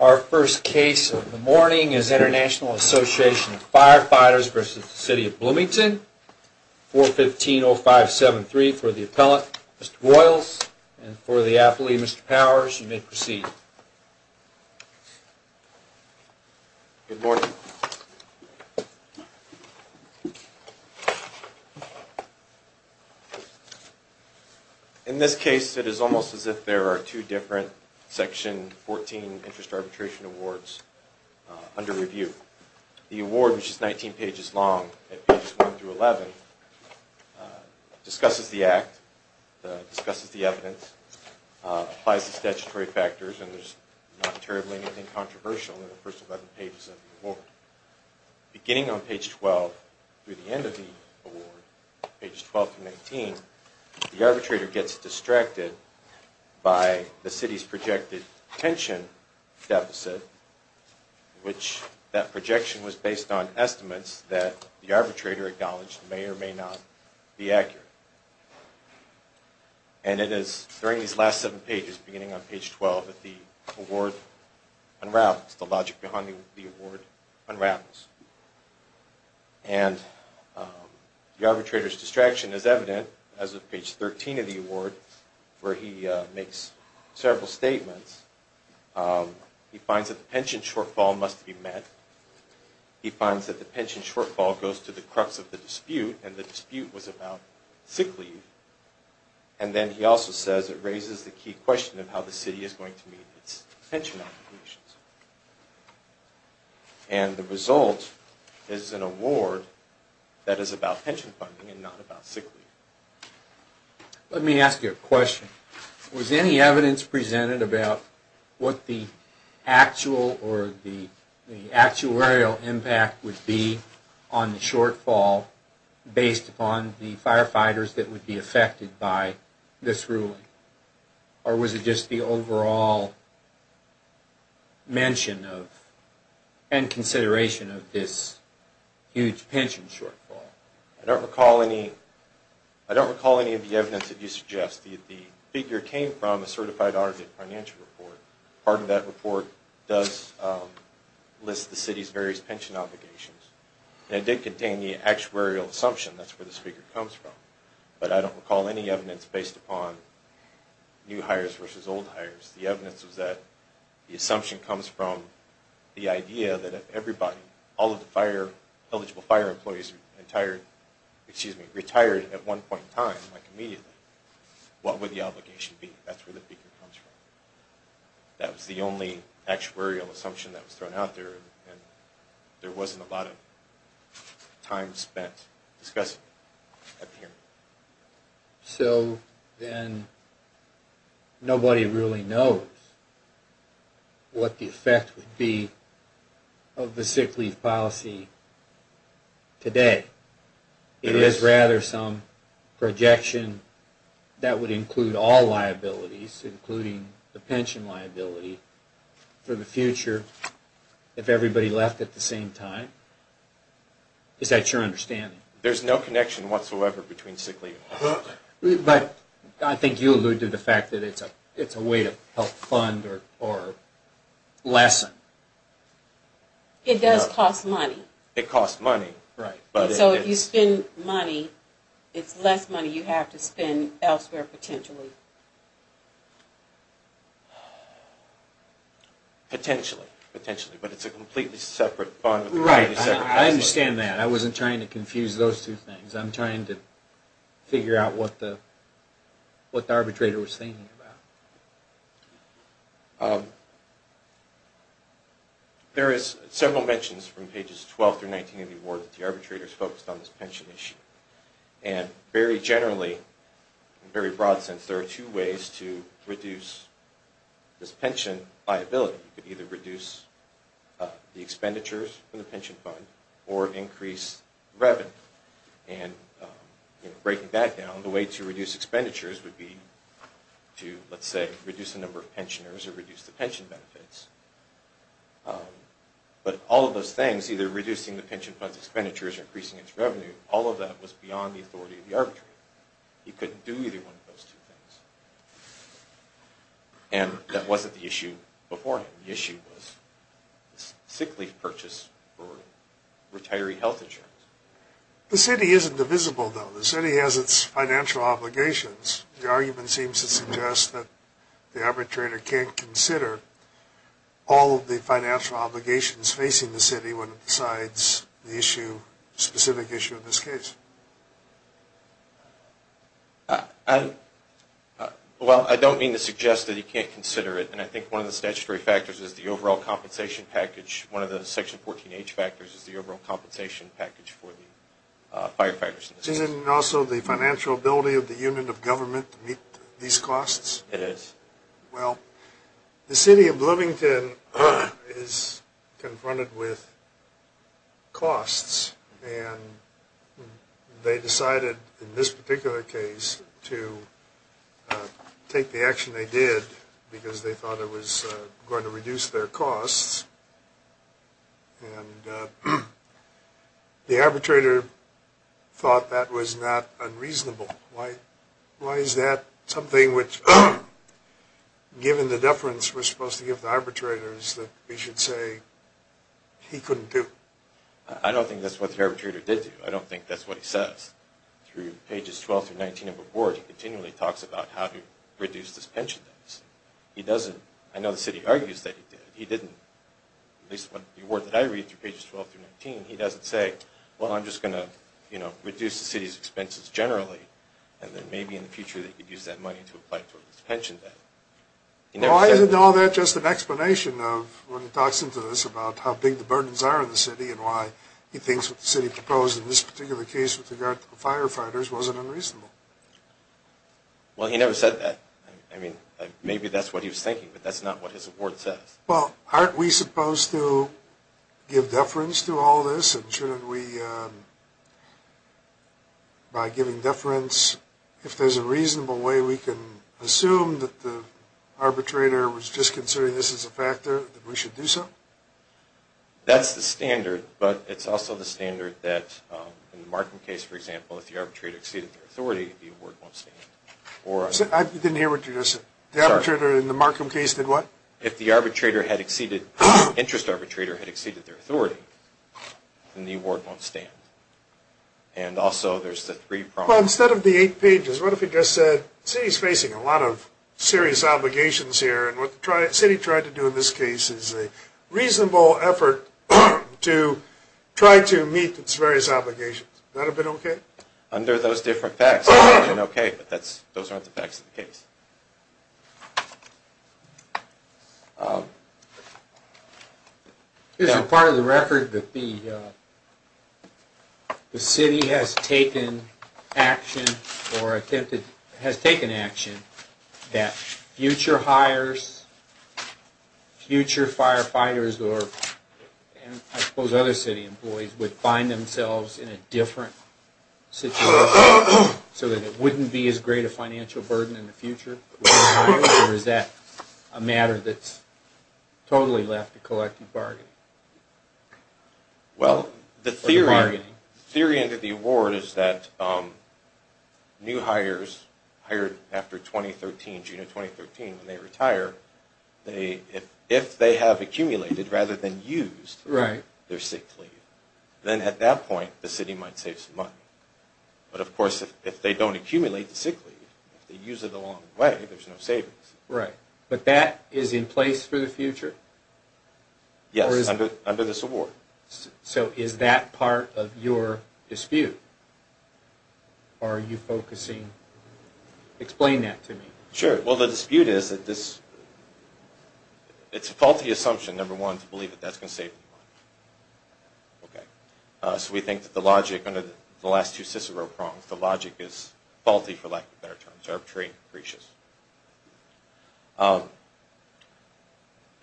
Our first case of the morning is International Association of Firefighters v. City of Bloomington, 415-0573 for the appellant, Mr. Boyles, and for the athlete, Mr. Powers. You may proceed. Good morning. In this case, it is almost as if there are two different Section 14 interest arbitration awards under review. The award, which is 19 pages long at pages 1-11, discusses the act, discusses the evidence, applies the statutory factors, and there's not terribly anything controversial in the first 11 pages of the award. The projection was based on estimates that the arbitrator acknowledged may or may not be accurate. And it is during these last seven pages, beginning on page 12, that the award unravels, the logic behind the award unravels. And the arbitrator's distraction is evident as of page 13 of the award, where he makes several statements. He finds that the pension shortfall must be met. He finds that the pension shortfall goes to the crux of the dispute, and the dispute was about sick leave. And then he also says it raises the key question of how the city is going to meet its pension obligations. And the result is an award that is about pension funding and not about sick leave. Let me ask you a question. Was any evidence presented about what the actual or the actuarial impact would be on the shortfall based upon the firefighters that would be affected by this ruling? Or was it just the overall mention of and consideration of this huge pension shortfall? I don't recall any of the evidence that you suggest. The figure came from a certified audit financial report. Part of that report does list the city's various pension obligations, and it did contain the actuarial assumption. That's where the figure comes from. But I don't recall any evidence based upon new hires versus old hires. The evidence was that the assumption comes from the idea that if everybody, all of the fire, eligible fire employees retired at one point in time, like immediately, what would the obligation be? That's where the figure comes from. That was the only actuarial assumption that was thrown out there, and there wasn't a lot of time spent discussing it up here. So then nobody really knows what the effect would be of the sick leave policy today. It is rather some projection that would include all liabilities, including the pension liability, for the future if everybody left at the same time. Is that your understanding? There's no connection whatsoever between sick leave. But I think you alluded to the fact that it's a way to help fund or lessen. It does cost money. It costs money. So if you spend money, it's less money you have to spend elsewhere potentially. Potentially, but it's a completely separate fund. I understand that. I wasn't trying to confuse those two things. I'm trying to figure out what the arbitrator was thinking about. There is several mentions from pages 12 through 19 of the award that the arbitrators focused on this pension issue. Very generally, in a very broad sense, there are two ways to reduce this pension liability. You could either reduce the expenditures from the pension fund or increase revenue. And breaking that down, the way to reduce expenditures would be to, let's say, reduce the number of pensioners or reduce the pension benefits. But all of those things, either reducing the pension fund's expenditures or increasing its revenue, all of that was beyond the authority of the arbitrator. He couldn't do either one of those two things. And that wasn't the issue before him. The issue was sick leave purchase or retiree health insurance. The city isn't divisible, though. The city has its financial obligations. The argument seems to suggest that the arbitrator can't consider all of the financial obligations facing the city when it decides the specific issue in this case. Well, I don't mean to suggest that he can't consider it. And I think one of the statutory factors is the overall compensation package. One of the Section 14H factors is the overall compensation package for the firefighters. Isn't it also the financial ability of the unit of government to meet these costs? It is. Well, the city of Bloomington is confronted with costs. And they decided in this particular case to take the action they did because they thought it was going to reduce their costs. And the arbitrator thought that was not unreasonable. Why is that something which, given the deference we're supposed to give the arbitrators, that we should say he couldn't do? I don't think that's what the arbitrator did do. I don't think that's what he says. Through pages 12 through 19 of the board, he continually talks about how to reduce this pension deficit. I know the city argues that he did. At least the word that I read through pages 12 through 19, he doesn't say, Well, I'm just going to, you know, reduce the city's expenses generally. And then maybe in the future they could use that money to apply for this pension debt. Well, isn't all that just an explanation of when he talks into this about how big the burdens are in the city and why he thinks what the city proposed in this particular case with regard to the firefighters wasn't unreasonable? Well, he never said that. I mean, maybe that's what he was thinking, but that's not what his award says. Well, aren't we supposed to give deference to all this? And shouldn't we, by giving deference, if there's a reasonable way we can assume that the arbitrator was just considering this as a factor, that we should do so? That's the standard, but it's also the standard that in the Markham case, for example, if the arbitrator exceeded their authority, the award won't stand. I didn't hear what you just said. The arbitrator in the Markham case did what? If the interest arbitrator had exceeded their authority, then the award won't stand. And also there's the three prongs. Well, instead of the eight pages, what if he just said the city is facing a lot of serious obligations here and what the city tried to do in this case is a reasonable effort to try to meet its various obligations. Would that have been okay? Under those different facts, it would have been okay, but those aren't the facts of the case. Is it part of the record that the city has taken action that future hires, future firefighters, or I suppose other city employees would find themselves in a different situation so that it wouldn't be as great a financial burden in the future? Or is that a matter that's totally left to collective bargaining? Well, the theory under the award is that new hires hired after June of 2013 when they retire, if they have accumulated rather than used their sick leave, then at that point the city might save some money. But of course if they don't accumulate the sick leave, if they use it along the way, there's no savings. Right. But that is in place for the future? Yes, under this award. So is that part of your dispute? Are you focusing... explain that to me. Sure. Well, the dispute is that it's a faulty assumption, number one, to believe that that's going to save money. So we think that the logic under the last two Cicero prongs, the logic is faulty for lack of a better term. It's arbitrary and capricious.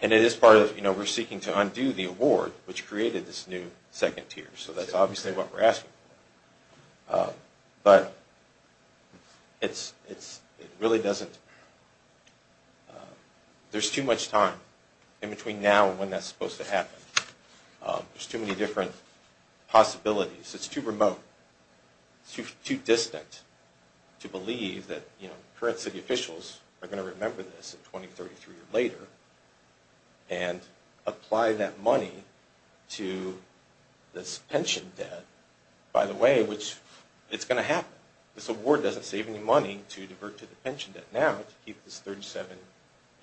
And it is part of, you know, we're seeking to undo the award which created this new second tier. So that's obviously what we're asking for. But it really doesn't... there's too much time in between now and when that's supposed to happen. There's too many different possibilities. It's too remote, too distant to believe that, you know, current city officials are going to remember this in 2033 or later and apply that money to this pension debt, by the way, which it's going to happen. This award doesn't save any money to divert to the pension debt now to keep this $37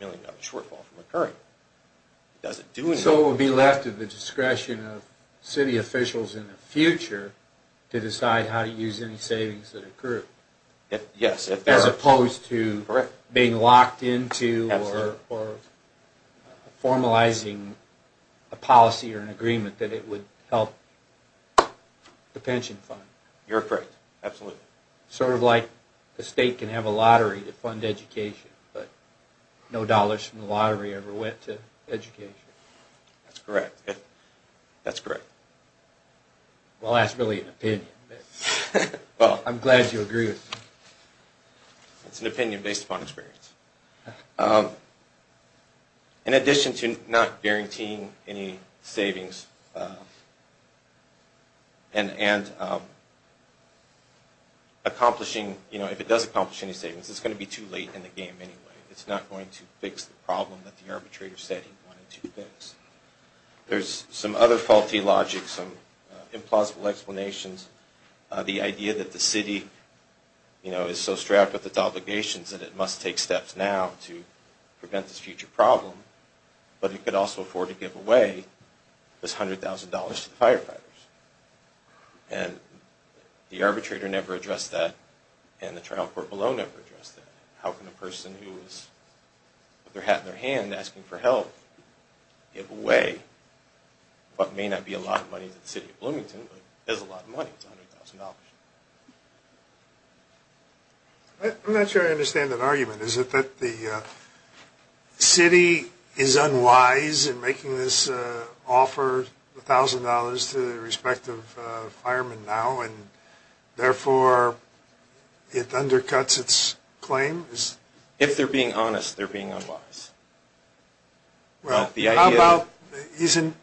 million shortfall from occurring. It doesn't do anything. So it will be left to the discretion of city officials in the future to decide how to use any savings that occur. Yes. As opposed to being locked into or formalizing a policy or an agreement that it would help the pension fund. You're correct. Absolutely. Sort of like the state can have a lottery to fund education, but no dollars from the lottery ever went to education. That's correct. That's correct. Well, that's really an opinion, but I'm glad you agree with me. It's an opinion based upon experience. In addition to not guaranteeing any savings and accomplishing, you know, if it does accomplish any savings, it's going to be too late in the game anyway. It's not going to fix the problem that the arbitrator said he wanted to fix. There's some other faulty logic, some implausible explanations. The idea that the city, you know, is so strapped with its obligations that it must take steps now to prevent this future problem, but it could also afford to give away this $100,000 to the firefighters. And the arbitrator never addressed that, and the trial court below never addressed that. How can a person who has their hat in their hand asking for help give away what may not be a lot of money to the city of Bloomington, but is a lot of money, $100,000? I'm not sure I understand that argument. Is it that the city is unwise in making this offer, $1,000, to the respective firemen now, and therefore it undercuts its claim? If they're being honest, they're being unwise. Well, isn't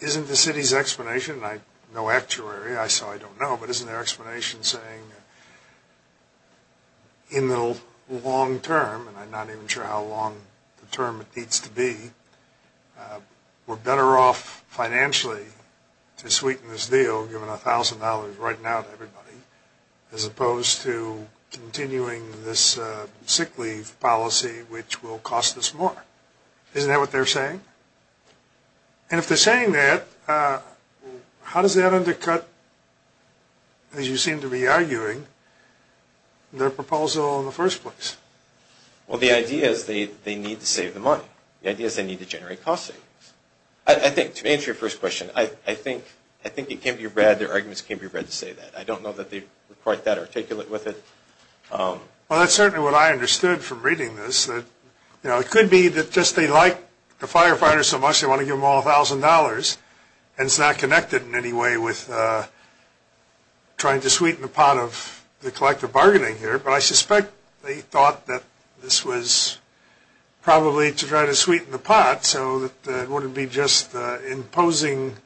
the city's explanation, and I know actuary, so I don't know, but isn't their explanation saying in the long term, and I'm not even sure how long the term needs to be, we're better off financially to sweeten this deal, giving $1,000 right now to everybody, as opposed to continuing this sick leave policy which will cost us more? Isn't that what they're saying? And if they're saying that, how does that undercut, as you seem to be arguing, their proposal in the first place? Well, the idea is they need to save the money. The idea is they need to generate cost savings. To answer your first question, I think it can be read, their arguments can be read to say that. I don't know that they're quite that articulate with it. Well, that's certainly what I understood from reading this. It could be that just they like the firefighters so much they want to give them all $1,000, and it's not connected in any way with trying to sweeten the pot of the collective bargaining here, but I suspect they thought that this was probably to try to sweeten the pot so that it wouldn't be just imposing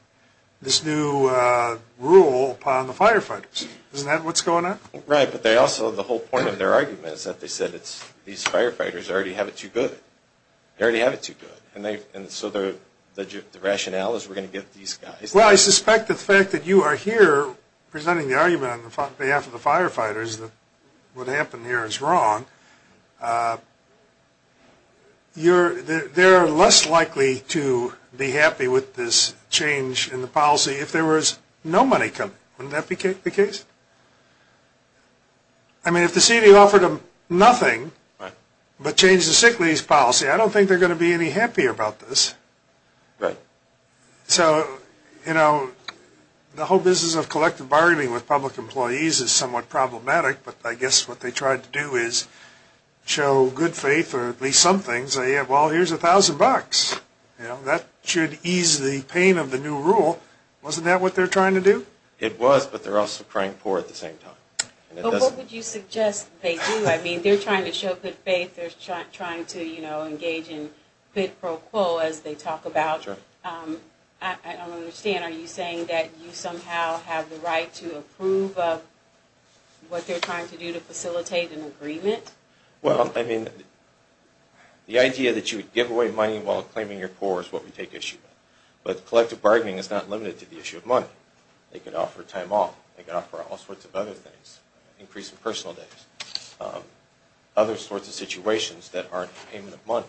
this new rule upon the firefighters. Isn't that what's going on? Right, but they also, the whole point of their argument is that they said these firefighters already have it too good. They already have it too good, and so the rationale is we're going to get these guys. Well, I suspect the fact that you are here presenting the argument on behalf of the firefighters that what happened here is wrong, they're less likely to be happy with this change in the policy if there was no money coming. Wouldn't that be the case? I mean, if the city offered them nothing but change the sick leave policy, I don't think they're going to be any happier about this. So, you know, the whole business of collective bargaining with public employees is somewhat problematic, but I guess what they tried to do is show good faith, or at least some things. Well, here's $1,000. That should ease the pain of the new rule. Wasn't that what they're trying to do? It was, but they're also crying poor at the same time. What would you suggest they do? I mean, they're trying to show good faith. They're trying to engage in bid pro quo, as they talk about. I don't understand. Are you saying that you somehow have the right to approve of what they're trying to do to facilitate an agreement? Well, I mean, the idea that you give away money while claiming you're poor is what we take issue with. But collective bargaining is not limited to the issue of money. They can offer time off. They can offer all sorts of other things. Increase in personal days. Other sorts of situations that aren't payment of money.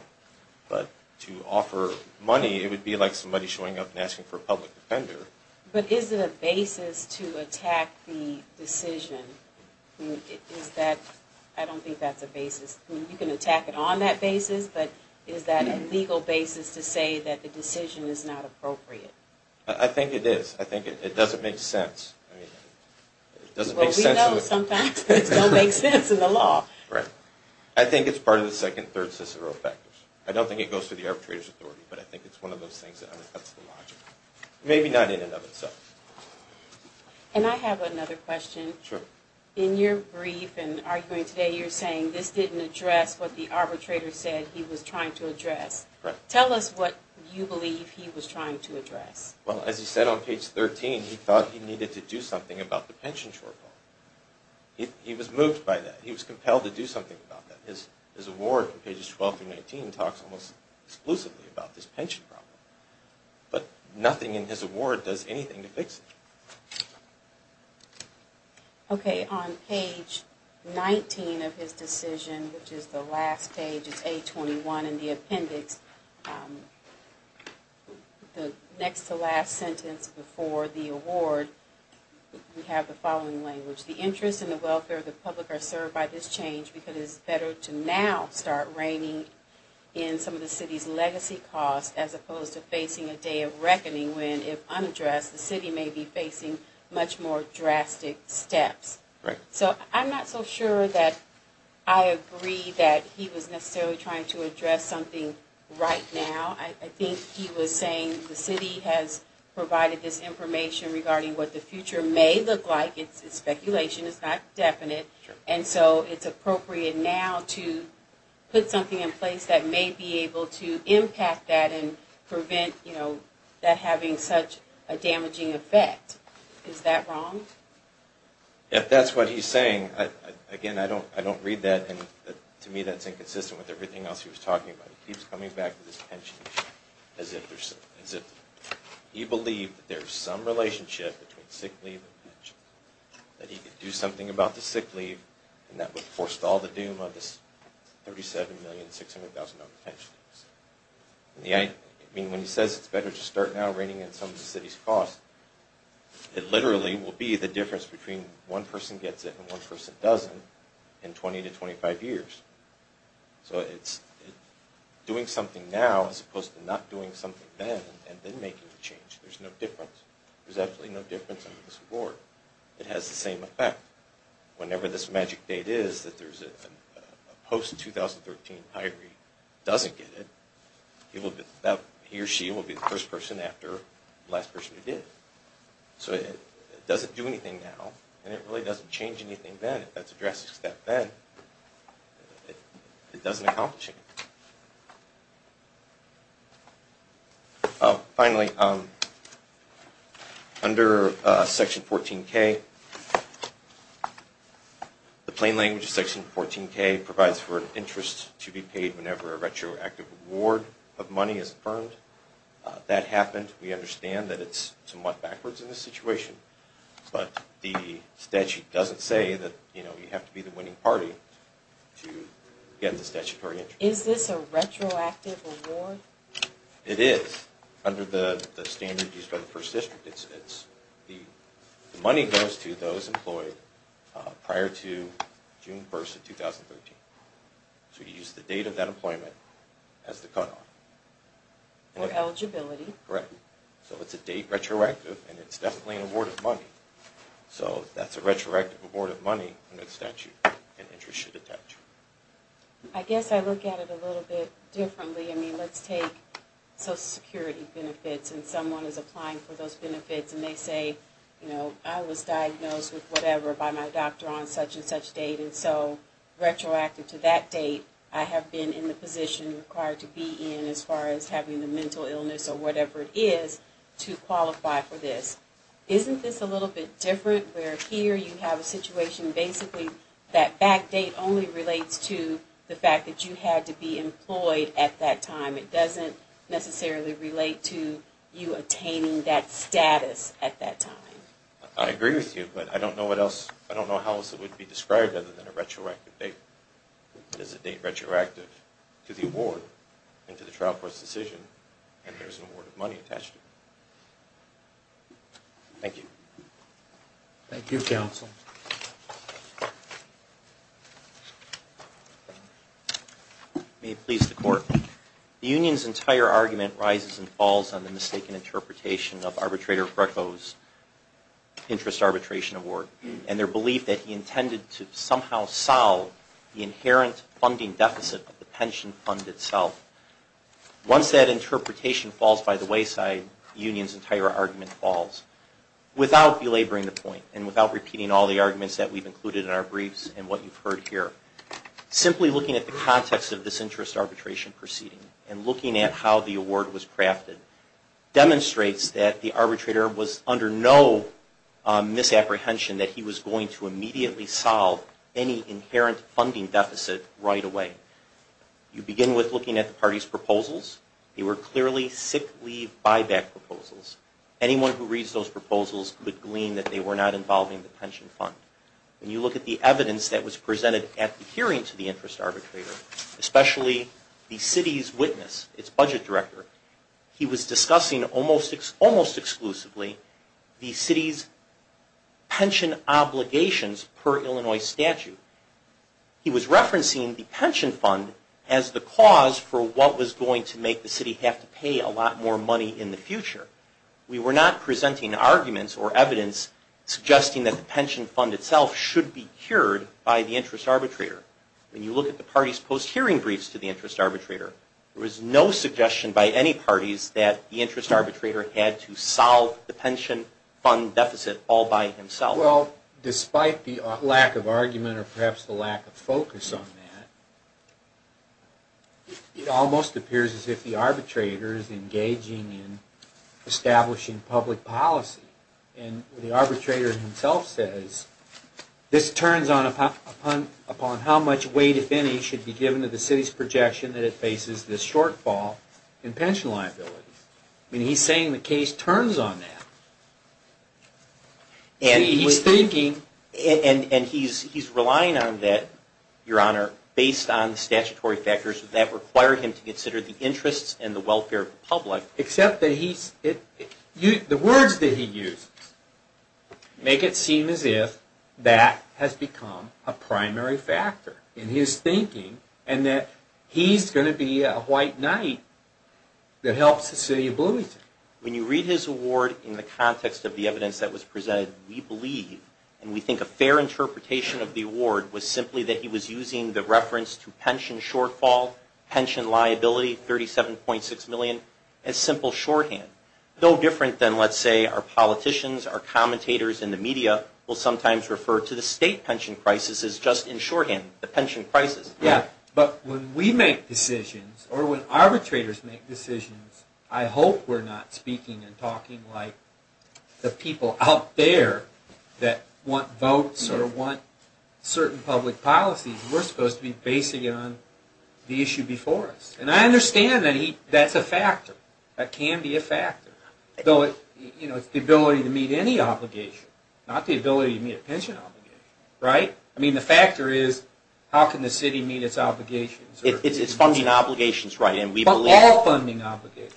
But to offer money, it would be like somebody showing up and asking for a public defender. But is it a basis to attack the decision? I don't think that's a basis. I mean, you can attack it on that basis, but is that a legal basis to say that the decision is not appropriate? I think it is. I think it doesn't make sense. Well, we know sometimes it doesn't make sense in the law. Right. I think it's part of the second and third cicero factors. I don't think it goes through the arbitrator's authority, but I think it's one of those things that undercuts the logic. Maybe not in and of itself. And I have another question. Sure. In your brief and arguing today, you're saying this didn't address what the arbitrator said he was trying to address. Correct. Tell us what you believe he was trying to address. Well, as he said on page 13, he thought he needed to do something about the pension shortfall. He was moved by that. He was compelled to do something about that. His award from pages 12 through 19 talks almost exclusively about this pension problem. But nothing in his award does anything to fix it. Okay. Today on page 19 of his decision, which is the last page, it's A21 in the appendix, the next to last sentence before the award, we have the following language. The interest in the welfare of the public are served by this change because it is better to now start reining in some of the city's So I'm not so sure that I agree that he was necessarily trying to address something right now. I think he was saying the city has provided this information regarding what the future may look like. It's speculation. It's not definite. And so it's appropriate now to put something in place that may be able to impact that and prevent that having such a damaging effect. Is that wrong? If that's what he's saying, again, I don't read that, and to me that's inconsistent with everything else he was talking about. He keeps coming back to this pension issue as if he believed that there's some relationship between sick leave and pension, that he could do something about the sick leave, and that would forestall the doom of this $37,600,000 pension. I mean, when he says it's better to start now reining in some of the city's costs, it literally will be the difference between one person gets it and one person doesn't in 20 to 25 years. So it's doing something now as opposed to not doing something then and then making the change. There's no difference. There's absolutely no difference under this award. It has the same effect. Whenever this magic date is that there's a post-2013 hiree who doesn't get it, he or she will be the first person after the last person who did. So it doesn't do anything now, and it really doesn't change anything then. If that's a drastic step then, it doesn't accomplish anything. Finally, under Section 14K, the plain language of Section 14K provides for an interest to be paid whenever a retroactive award of money is affirmed. That happened. We understand that it's somewhat backwards in this situation, but the statute doesn't say that you have to be the winning party to get the statutory interest. Is this a retroactive award? It is under the standard used by the First District. The money goes to those employed prior to June 1st of 2013. So you use the date of that employment as the cutoff. Or eligibility. Correct. So it's a date retroactive, and it's definitely an award of money. So that's a retroactive award of money under the statute. An interest should attach. I guess I look at it a little bit differently. I mean, let's take Social Security benefits, and someone is applying for those benefits, and they say, you know, I was diagnosed with whatever by my doctor on such and such date, and so retroactive to that date, I have been in the position required to be in as far as having the mental illness or whatever it is to qualify for this. Isn't this a little bit different where here you have a situation basically that back date only relates to the fact that you had to be employed at that time. It doesn't necessarily relate to you attaining that status at that time. I agree with you, but I don't know what else. I don't know how else it would be described other than a retroactive date. It is a date retroactive to the award and to the trial court's decision, and there's an award of money attached to it. Thank you. Thank you, counsel. May it please the Court. The union's entire argument rises and falls on the mistaken interpretation of arbitrator Greco's interest arbitration award and their belief that he intended to somehow solve the inherent funding deficit of the pension fund itself. Once that interpretation falls by the wayside, the union's entire argument falls. Without belaboring the point and without repeating all the arguments that we've included in our briefs and what you've heard here, simply looking at the context of this interest arbitration proceeding and looking at how the award was crafted demonstrates that the arbitrator was under no misapprehension that he was going to immediately solve any inherent funding deficit right away. You begin with looking at the party's proposals. They were clearly sick leave buyback proposals. Anyone who reads those proposals would glean that they were not involving the pension fund. When you look at the evidence that was presented at the hearing to the interest arbitrator, especially the city's witness, its budget director, he was discussing almost exclusively the city's pension obligations per Illinois statute. He was referencing the pension fund as the cause for what was going to make the city have to pay a lot more money in the future. We were not presenting arguments or evidence suggesting that the pension fund itself should be cured by the interest arbitrator. When you look at the party's post-hearing briefs to the interest arbitrator, there was no suggestion by any parties that the interest arbitrator had to solve the pension fund deficit all by himself. Well, despite the lack of argument or perhaps the lack of focus on that, it almost appears as if the arbitrator is engaging in establishing public policy. And the arbitrator himself says, this turns upon how much weight, if any, should be given to the city's projection that it faces this shortfall in pension liabilities. I mean, he's saying the case turns on that. And he's thinking, and he's relying on that, Your Honor, based on statutory factors that require him to consider the interests and the welfare of the public. Except that the words that he uses make it seem as if that has become a primary factor in his thinking, and that he's going to be a white knight that helps the city of Bloomington. When you read his award in the context of the evidence that was presented, we believe and we think a fair interpretation of the award was simply that he was using the reference to pension shortfall, pension liability, 37.6 million, as simple shorthand. No different than, let's say, our politicians, our commentators in the media will sometimes refer to the state pension crisis as just in shorthand, the pension crisis. Yeah, but when we make decisions or when arbitrators make decisions, I hope we're not speaking and talking like the people out there that want votes or want certain public policies. We're supposed to be basing it on the issue before us. And I understand that that's a factor. That can be a factor. It's the ability to meet any obligation, not the ability to meet a pension obligation. Right? I mean, the factor is how can the city meet its obligations? It's funding obligations, right. But all funding obligations.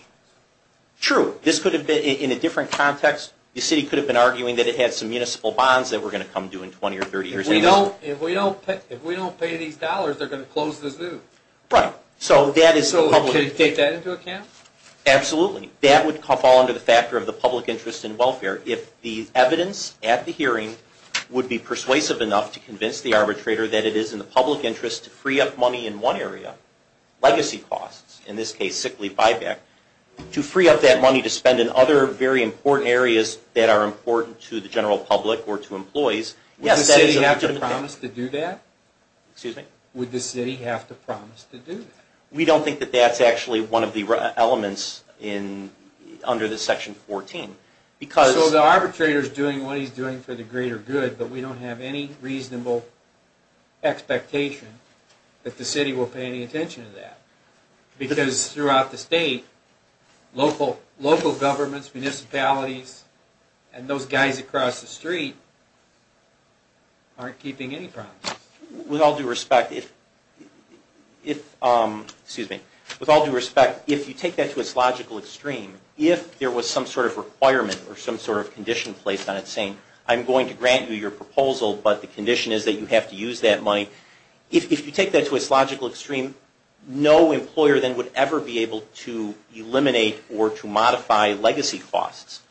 True. This could have been in a different context. The city could have been arguing that it had some municipal bonds that were going to come due in 20 or 30 years. If we don't pay these dollars, they're going to close this booth. Right. So can you take that into account? Absolutely. That would fall under the factor of the public interest in welfare. If the evidence at the hearing would be persuasive enough to convince the arbitrator that it is in the public interest to free up money in one area, legacy costs, in this case sick leave buyback, to free up that money to spend in other very important areas that are important to the general public or to employees. Yes, that is a legitimate thing. Would the city have to promise to do that? Excuse me? Would the city have to promise to do that? We don't think that that's actually one of the elements under this section 14. So the arbitrator is doing what he's doing for the greater good, but we don't have any reasonable expectation that the city will pay any attention to that. Because throughout the state, local governments, municipalities, and those guys across the street aren't keeping any promises. With all due respect, if you take that to its logical extreme, if there was some sort of requirement or some sort of condition placed on it saying, I'm going to grant you your proposal, but the condition is that you have to use that money, if you take that to its logical extreme, no employer then would ever be able to eliminate or to modify legacy costs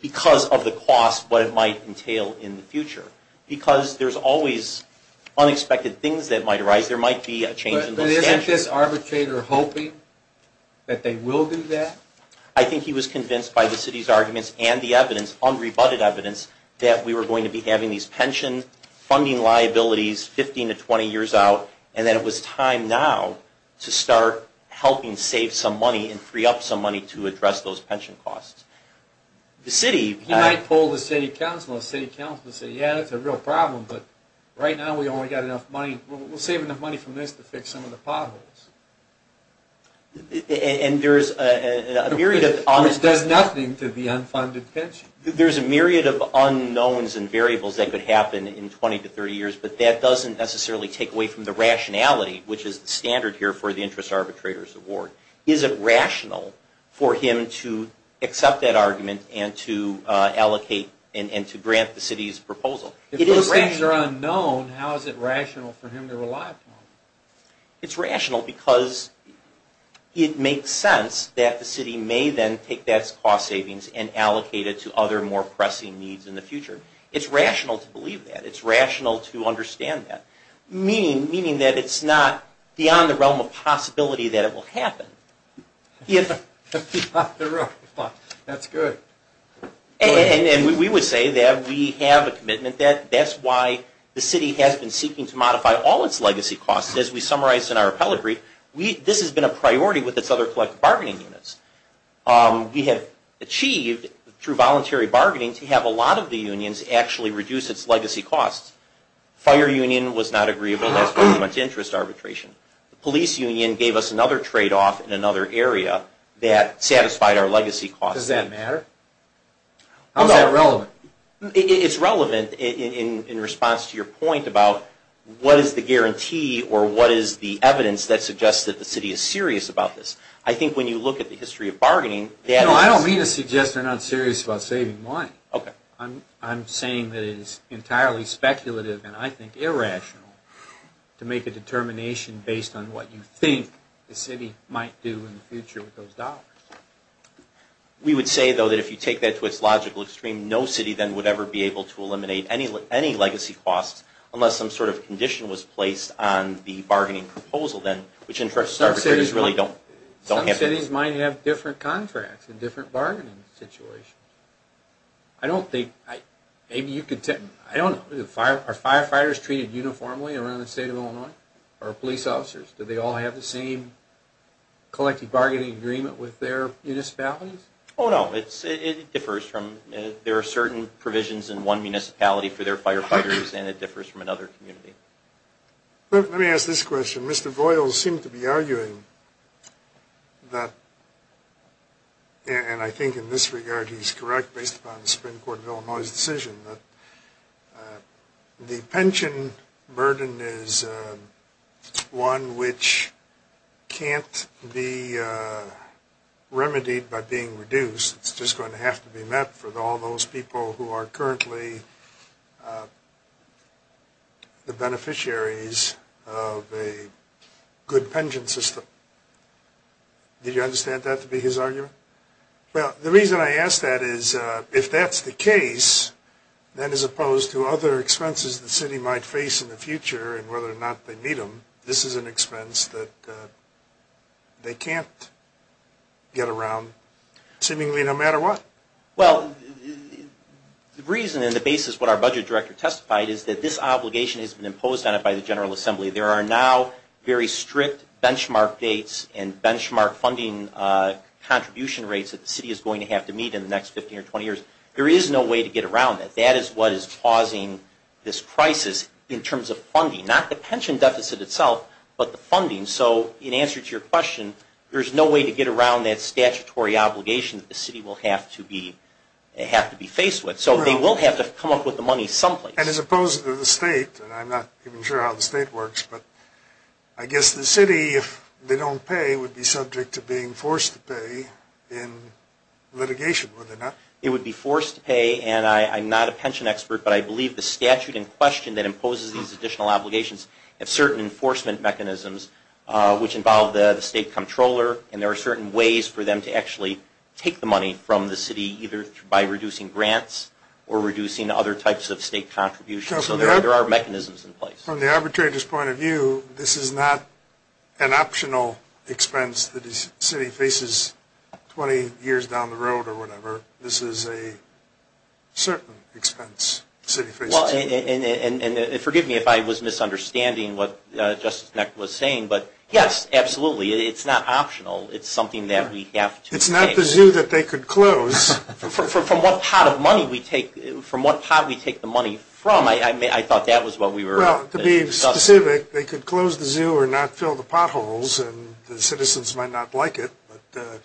because of the cost, what it might entail in the future. Because there's always unexpected things that might arise. There might be a change in the statute. But isn't this arbitrator hoping that they will do that? I think he was convinced by the city's arguments and the evidence, unrebutted evidence, that we were going to be having these pension funding liabilities 15 to 20 years out, and that it was time now to start helping save some money and free up some money to address those pension costs. He might pull the city council and say, yeah, that's a real problem, but right now we've only got enough money, we'll save enough money from this to fix some of the potholes. Which does nothing to the unfunded pension. There's a myriad of unknowns and variables that could happen in 20 to 30 years, but that doesn't necessarily take away from the rationality, which is the standard here for the interest arbitrator's award. Is it rational for him to accept that argument and to allocate and to grant the city's proposal? If those things are unknown, how is it rational for him to rely upon them? It's rational because it makes sense that the city may then take that cost savings and allocate it to other more pressing needs in the future. It's rational to believe that. It's rational to understand that. Meaning that it's not beyond the realm of possibility that it will happen. And we would say that we have a commitment, that's why the city has been seeking to modify all its legacy costs. As we summarized in our appellate brief, this has been a priority with its other collective bargaining units. We have achieved, through voluntary bargaining, to have a lot of the unions actually reduce its legacy costs. Fire union was not agreeable to ask for too much interest arbitration. Police union gave us another trade-off in another area that satisfied our legacy costs. Does that matter? How is that relevant? It's relevant in response to your point about what is the guarantee or what is the evidence that suggests that the city is serious about this. I think when you look at the history of bargaining... I don't mean to suggest they're not serious about saving money. I'm saying that it is entirely speculative and I think irrational to make a determination based on what you think the city might do in the future with those dollars. We would say, though, that if you take that to its logical extreme, no city then would ever be able to eliminate any legacy costs unless some sort of condition was placed on the bargaining proposal then, which interests arbitrators really don't have to... Some cities might have different contracts and different bargaining situations. I don't think... maybe you could... I don't know. Are firefighters treated uniformly around the state of Illinois? Or police officers? Do they all have the same collective bargaining agreement with their municipalities? Oh, no. It differs from... There are certain provisions in one municipality for their firefighters and it differs from another community. Let me ask this question. Mr. Voyles seemed to be arguing that... And I think in this regard he's correct based upon the Supreme Court of Illinois' decision that the pension burden is one which can't be remedied by being reduced. It's just going to have to be met for all those people who are currently the beneficiaries of a good pension system. Did you understand that to be his argument? Well, the reason I ask that is if that's the case, then as opposed to other expenses the city might face in the future and whether or not they meet them, this is an expense that they can't get around. Seemingly no matter what. Well, the reason and the basis of what our budget director testified is that this obligation has been imposed on it by the General Assembly. There are now very strict benchmark dates and benchmark funding contribution rates that the city is going to have to meet in the next 15 or 20 years. There is no way to get around it. That is what is causing this crisis in terms of funding. Not the pension deficit itself, but the funding. In answer to your question, there is no way to get around that statutory obligation that the city will have to be faced with. So they will have to come up with the money someplace. As opposed to the state, and I'm not even sure how the state works, but I guess the city if they don't pay would be subject to being forced to pay in litigation, would they not? It would be forced to pay, and I'm not a pension expert, but I believe the statute in question that imposes these additional obligations have certain enforcement mechanisms which involve the state controller, and there are certain ways for them to actually take the money from the city, either by reducing grants or reducing other types of state contributions. So there are mechanisms in place. From the arbitrator's point of view, this is not an optional expense that the city faces 20 years down the road or whatever. This is a certain expense the city faces. Well, and forgive me if I was misunderstanding what Justice Knecht was saying, but yes, absolutely, it's not optional. It's something that we have to pay. It's not the zoo that they could close. From what pot of money we take, from what pot we take the money from, I thought that was what we were discussing. Well, to be specific, they could close the zoo or not fill the potholes, and the citizens might not like it, but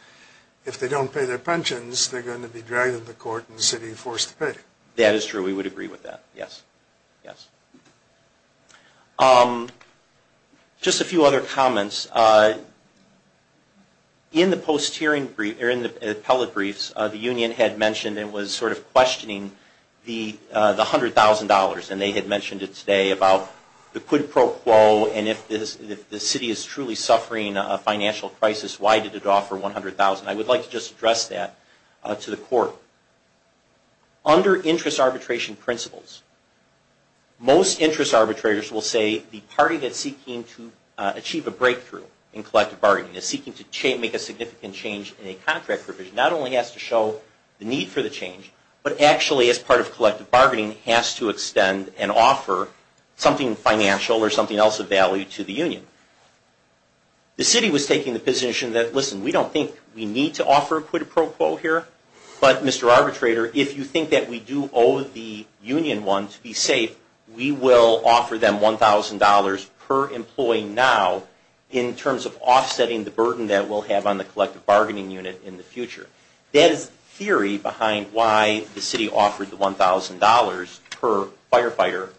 if they don't pay their pensions, they're going to be dragged into court and the city forced to pay. That is true. We would agree with that. Yes. Yes. Just a few other comments. In the post-hearing brief or in the appellate briefs, the union had mentioned and was sort of questioning the $100,000, and they had mentioned it today about the quid pro quo and if the city is truly suffering a financial crisis, why did it offer $100,000? I would like to just address that to the court. Under interest arbitration principles, most interest arbitrators will say the party that's seeking to achieve a breakthrough in collective bargaining, is seeking to make a significant change in a contract provision, not only has to show the need for the change, but actually, as part of collective bargaining, has to extend and offer something financial or something else of value to the union. The city was taking the position that, listen, we don't think we need to offer a quid pro quo here, but Mr. Arbitrator, if you think that we do owe the union one to be safe, we will offer them $1,000 per employee now in terms of offsetting the burden that we'll have on the collective bargaining unit in the future. That is the theory behind why the city offered the $1,000 per firefighter,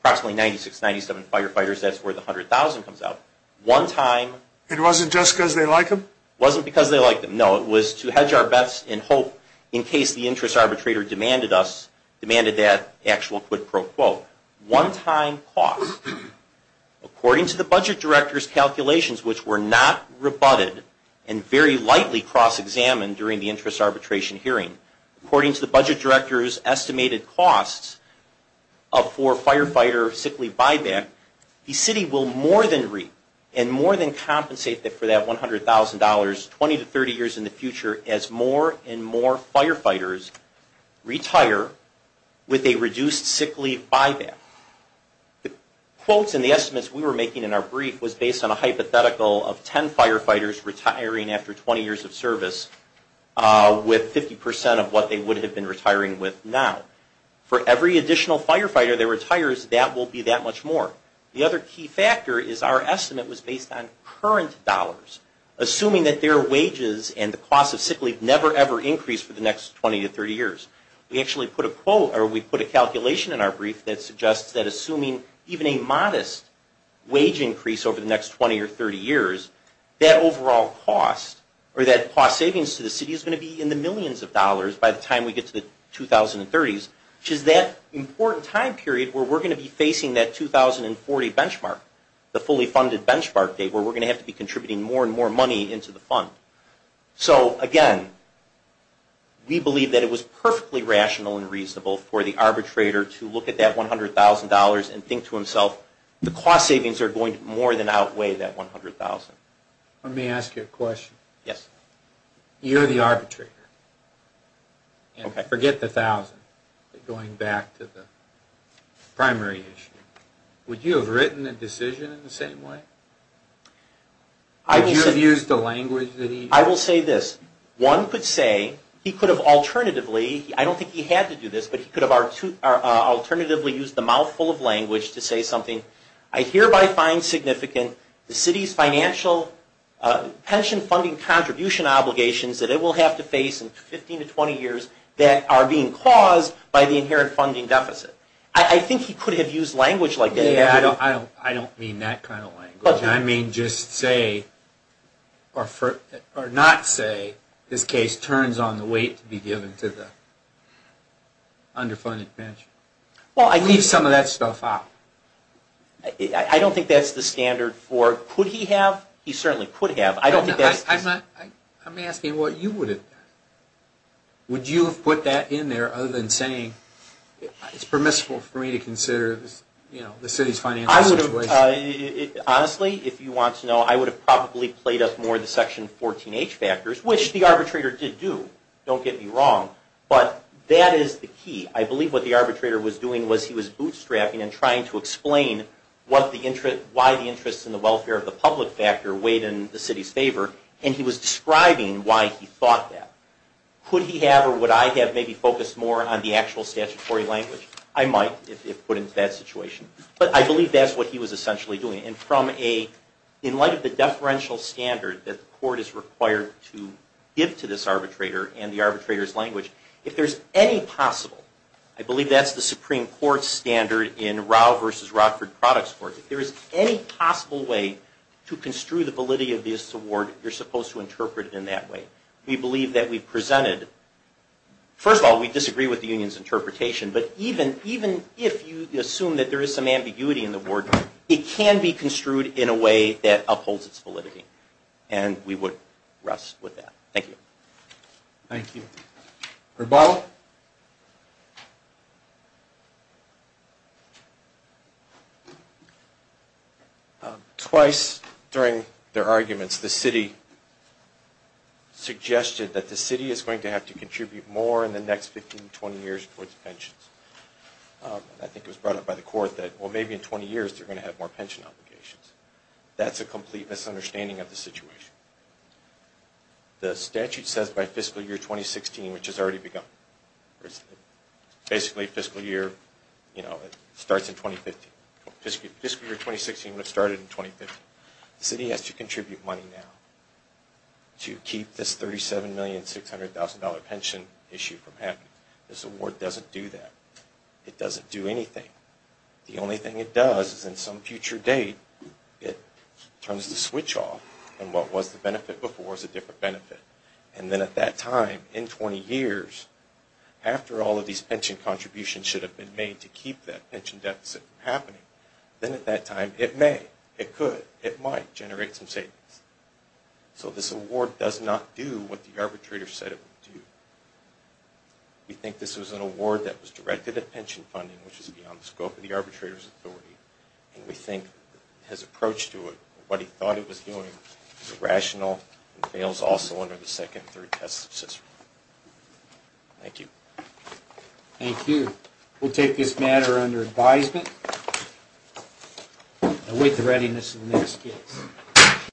approximately 96, 97 firefighters, that's where the $100,000 comes out. One time... It wasn't just because they like them? It wasn't because they like them. No, it was to hedge our bets in hope in case the interest arbitrator demanded that actual quid pro quo. One time cost, according to the budget director's calculations, which were not rebutted and very lightly cross-examined during the interest arbitration hearing, according to the budget director's estimated costs for firefighter sick leave buyback, the city will more than reap and more than compensate for that $100,000 20 to 30 years in the future as more and more firefighters retire with a reduced sick leave buyback. The quotes and the estimates we were making in our brief was based on a hypothetical of 10 firefighters retiring after 20 years of service with 50% of what they would have been retiring with now. For every additional firefighter that retires, that will be that much more. The other key factor is our estimate was based on current dollars. Assuming that their wages and the cost of sick leave never ever increase for the next 20 to 30 years. We actually put a calculation in our brief that suggests that assuming even a modest wage increase over the next 20 or 30 years, that overall cost or that cost savings to the city is going to be in the millions of dollars by the time we get to the 2030s, which is that important time period where we're going to be facing that 2040 benchmark, the fully funded benchmark day where we're going to have to be contributing more and more money into the fund. So again, we believe that it was perfectly rational and reasonable for the arbitrator to look at that $100,000 and think to himself, the cost savings are going to more than outweigh that $100,000. Let me ask you a question. Yes. You're the arbitrator. Forget the $1,000, going back to the primary issue. Would you have written a decision in the same way? Would you have used the language that he used? I will say this. One could say, he could have alternatively, I don't think he had to do this, but he could have alternatively used the mouthful of language to say something, I hereby find significant the city's financial pension funding contribution obligations that it will have to face in 15 to 20 years that are being caused by the inherent funding deficit. I think he could have used language like that. I don't mean that kind of language. I mean just say, or not say, this case turns on the weight to be given to the underfunded pension. Well, I leave some of that stuff out. I don't think that's the standard for, could he have? He certainly could have. I don't think that's... I'm asking what you would have done. Would you have put that in there other than saying, it's permissible for me to consider the city's financial situation? Honestly, if you want to know, I would have probably played up more of the Section 14H factors, which the arbitrator did do, don't get me wrong, but that is the key. I believe what the arbitrator was doing was he was bootstrapping and trying to explain why the interest in the welfare of the public factor weighed in the city's favor, and he was describing why he thought that. Could he have or would I have maybe focused more on the actual statutory language? I might, if put into that situation. But I believe that's what he was essentially doing. And from a, in light of the deferential standard that the court is required to give to this arbitrator and the arbitrator's language, if there's any possible, I believe that's the Supreme Court standard in Rao v. Rockford Products Court, if there is any possible way to construe the validity of this award, you're supposed to interpret it in that way. We believe that we presented, first of all, we disagree with the union's interpretation, but even if you assume that there is some ambiguity in the word, it can be construed in a way that upholds its validity. And we would rest with that. Thank you. Thank you. Herbal? Twice during their arguments, the city suggested that the city is going to have to contribute more in the next 15, 20 years towards pensions. I think it was brought up by the court that, well, maybe in 20 years they're going to have more pension obligations. That's a complete misunderstanding of the situation. The statute says by fiscal year 2016, which has already begun. Basically fiscal year, you know, starts in 2015. Fiscal year 2016 would have started in 2015. The city has to contribute money now to keep this $37,600,000 pension issue from happening. This award doesn't do that. It doesn't do anything. The only thing it does is in some future date it turns the switch off and what was the benefit before is a different benefit. And then at that time, in 20 years, after all of these pension contributions should have been made to keep that pension deficit from happening, then at that time it may, it could, it might generate some savings. So this award does not do what the arbitrator said it would do. We think this was an award that was directed at pension funding, which is beyond the scope of the arbitrator's authority. And we think his approach to it, what he thought it was doing, is irrational and fails also under the second and third test of Cicero. Thank you. Thank you. We'll take this matter under advisement and await the readiness of the next case.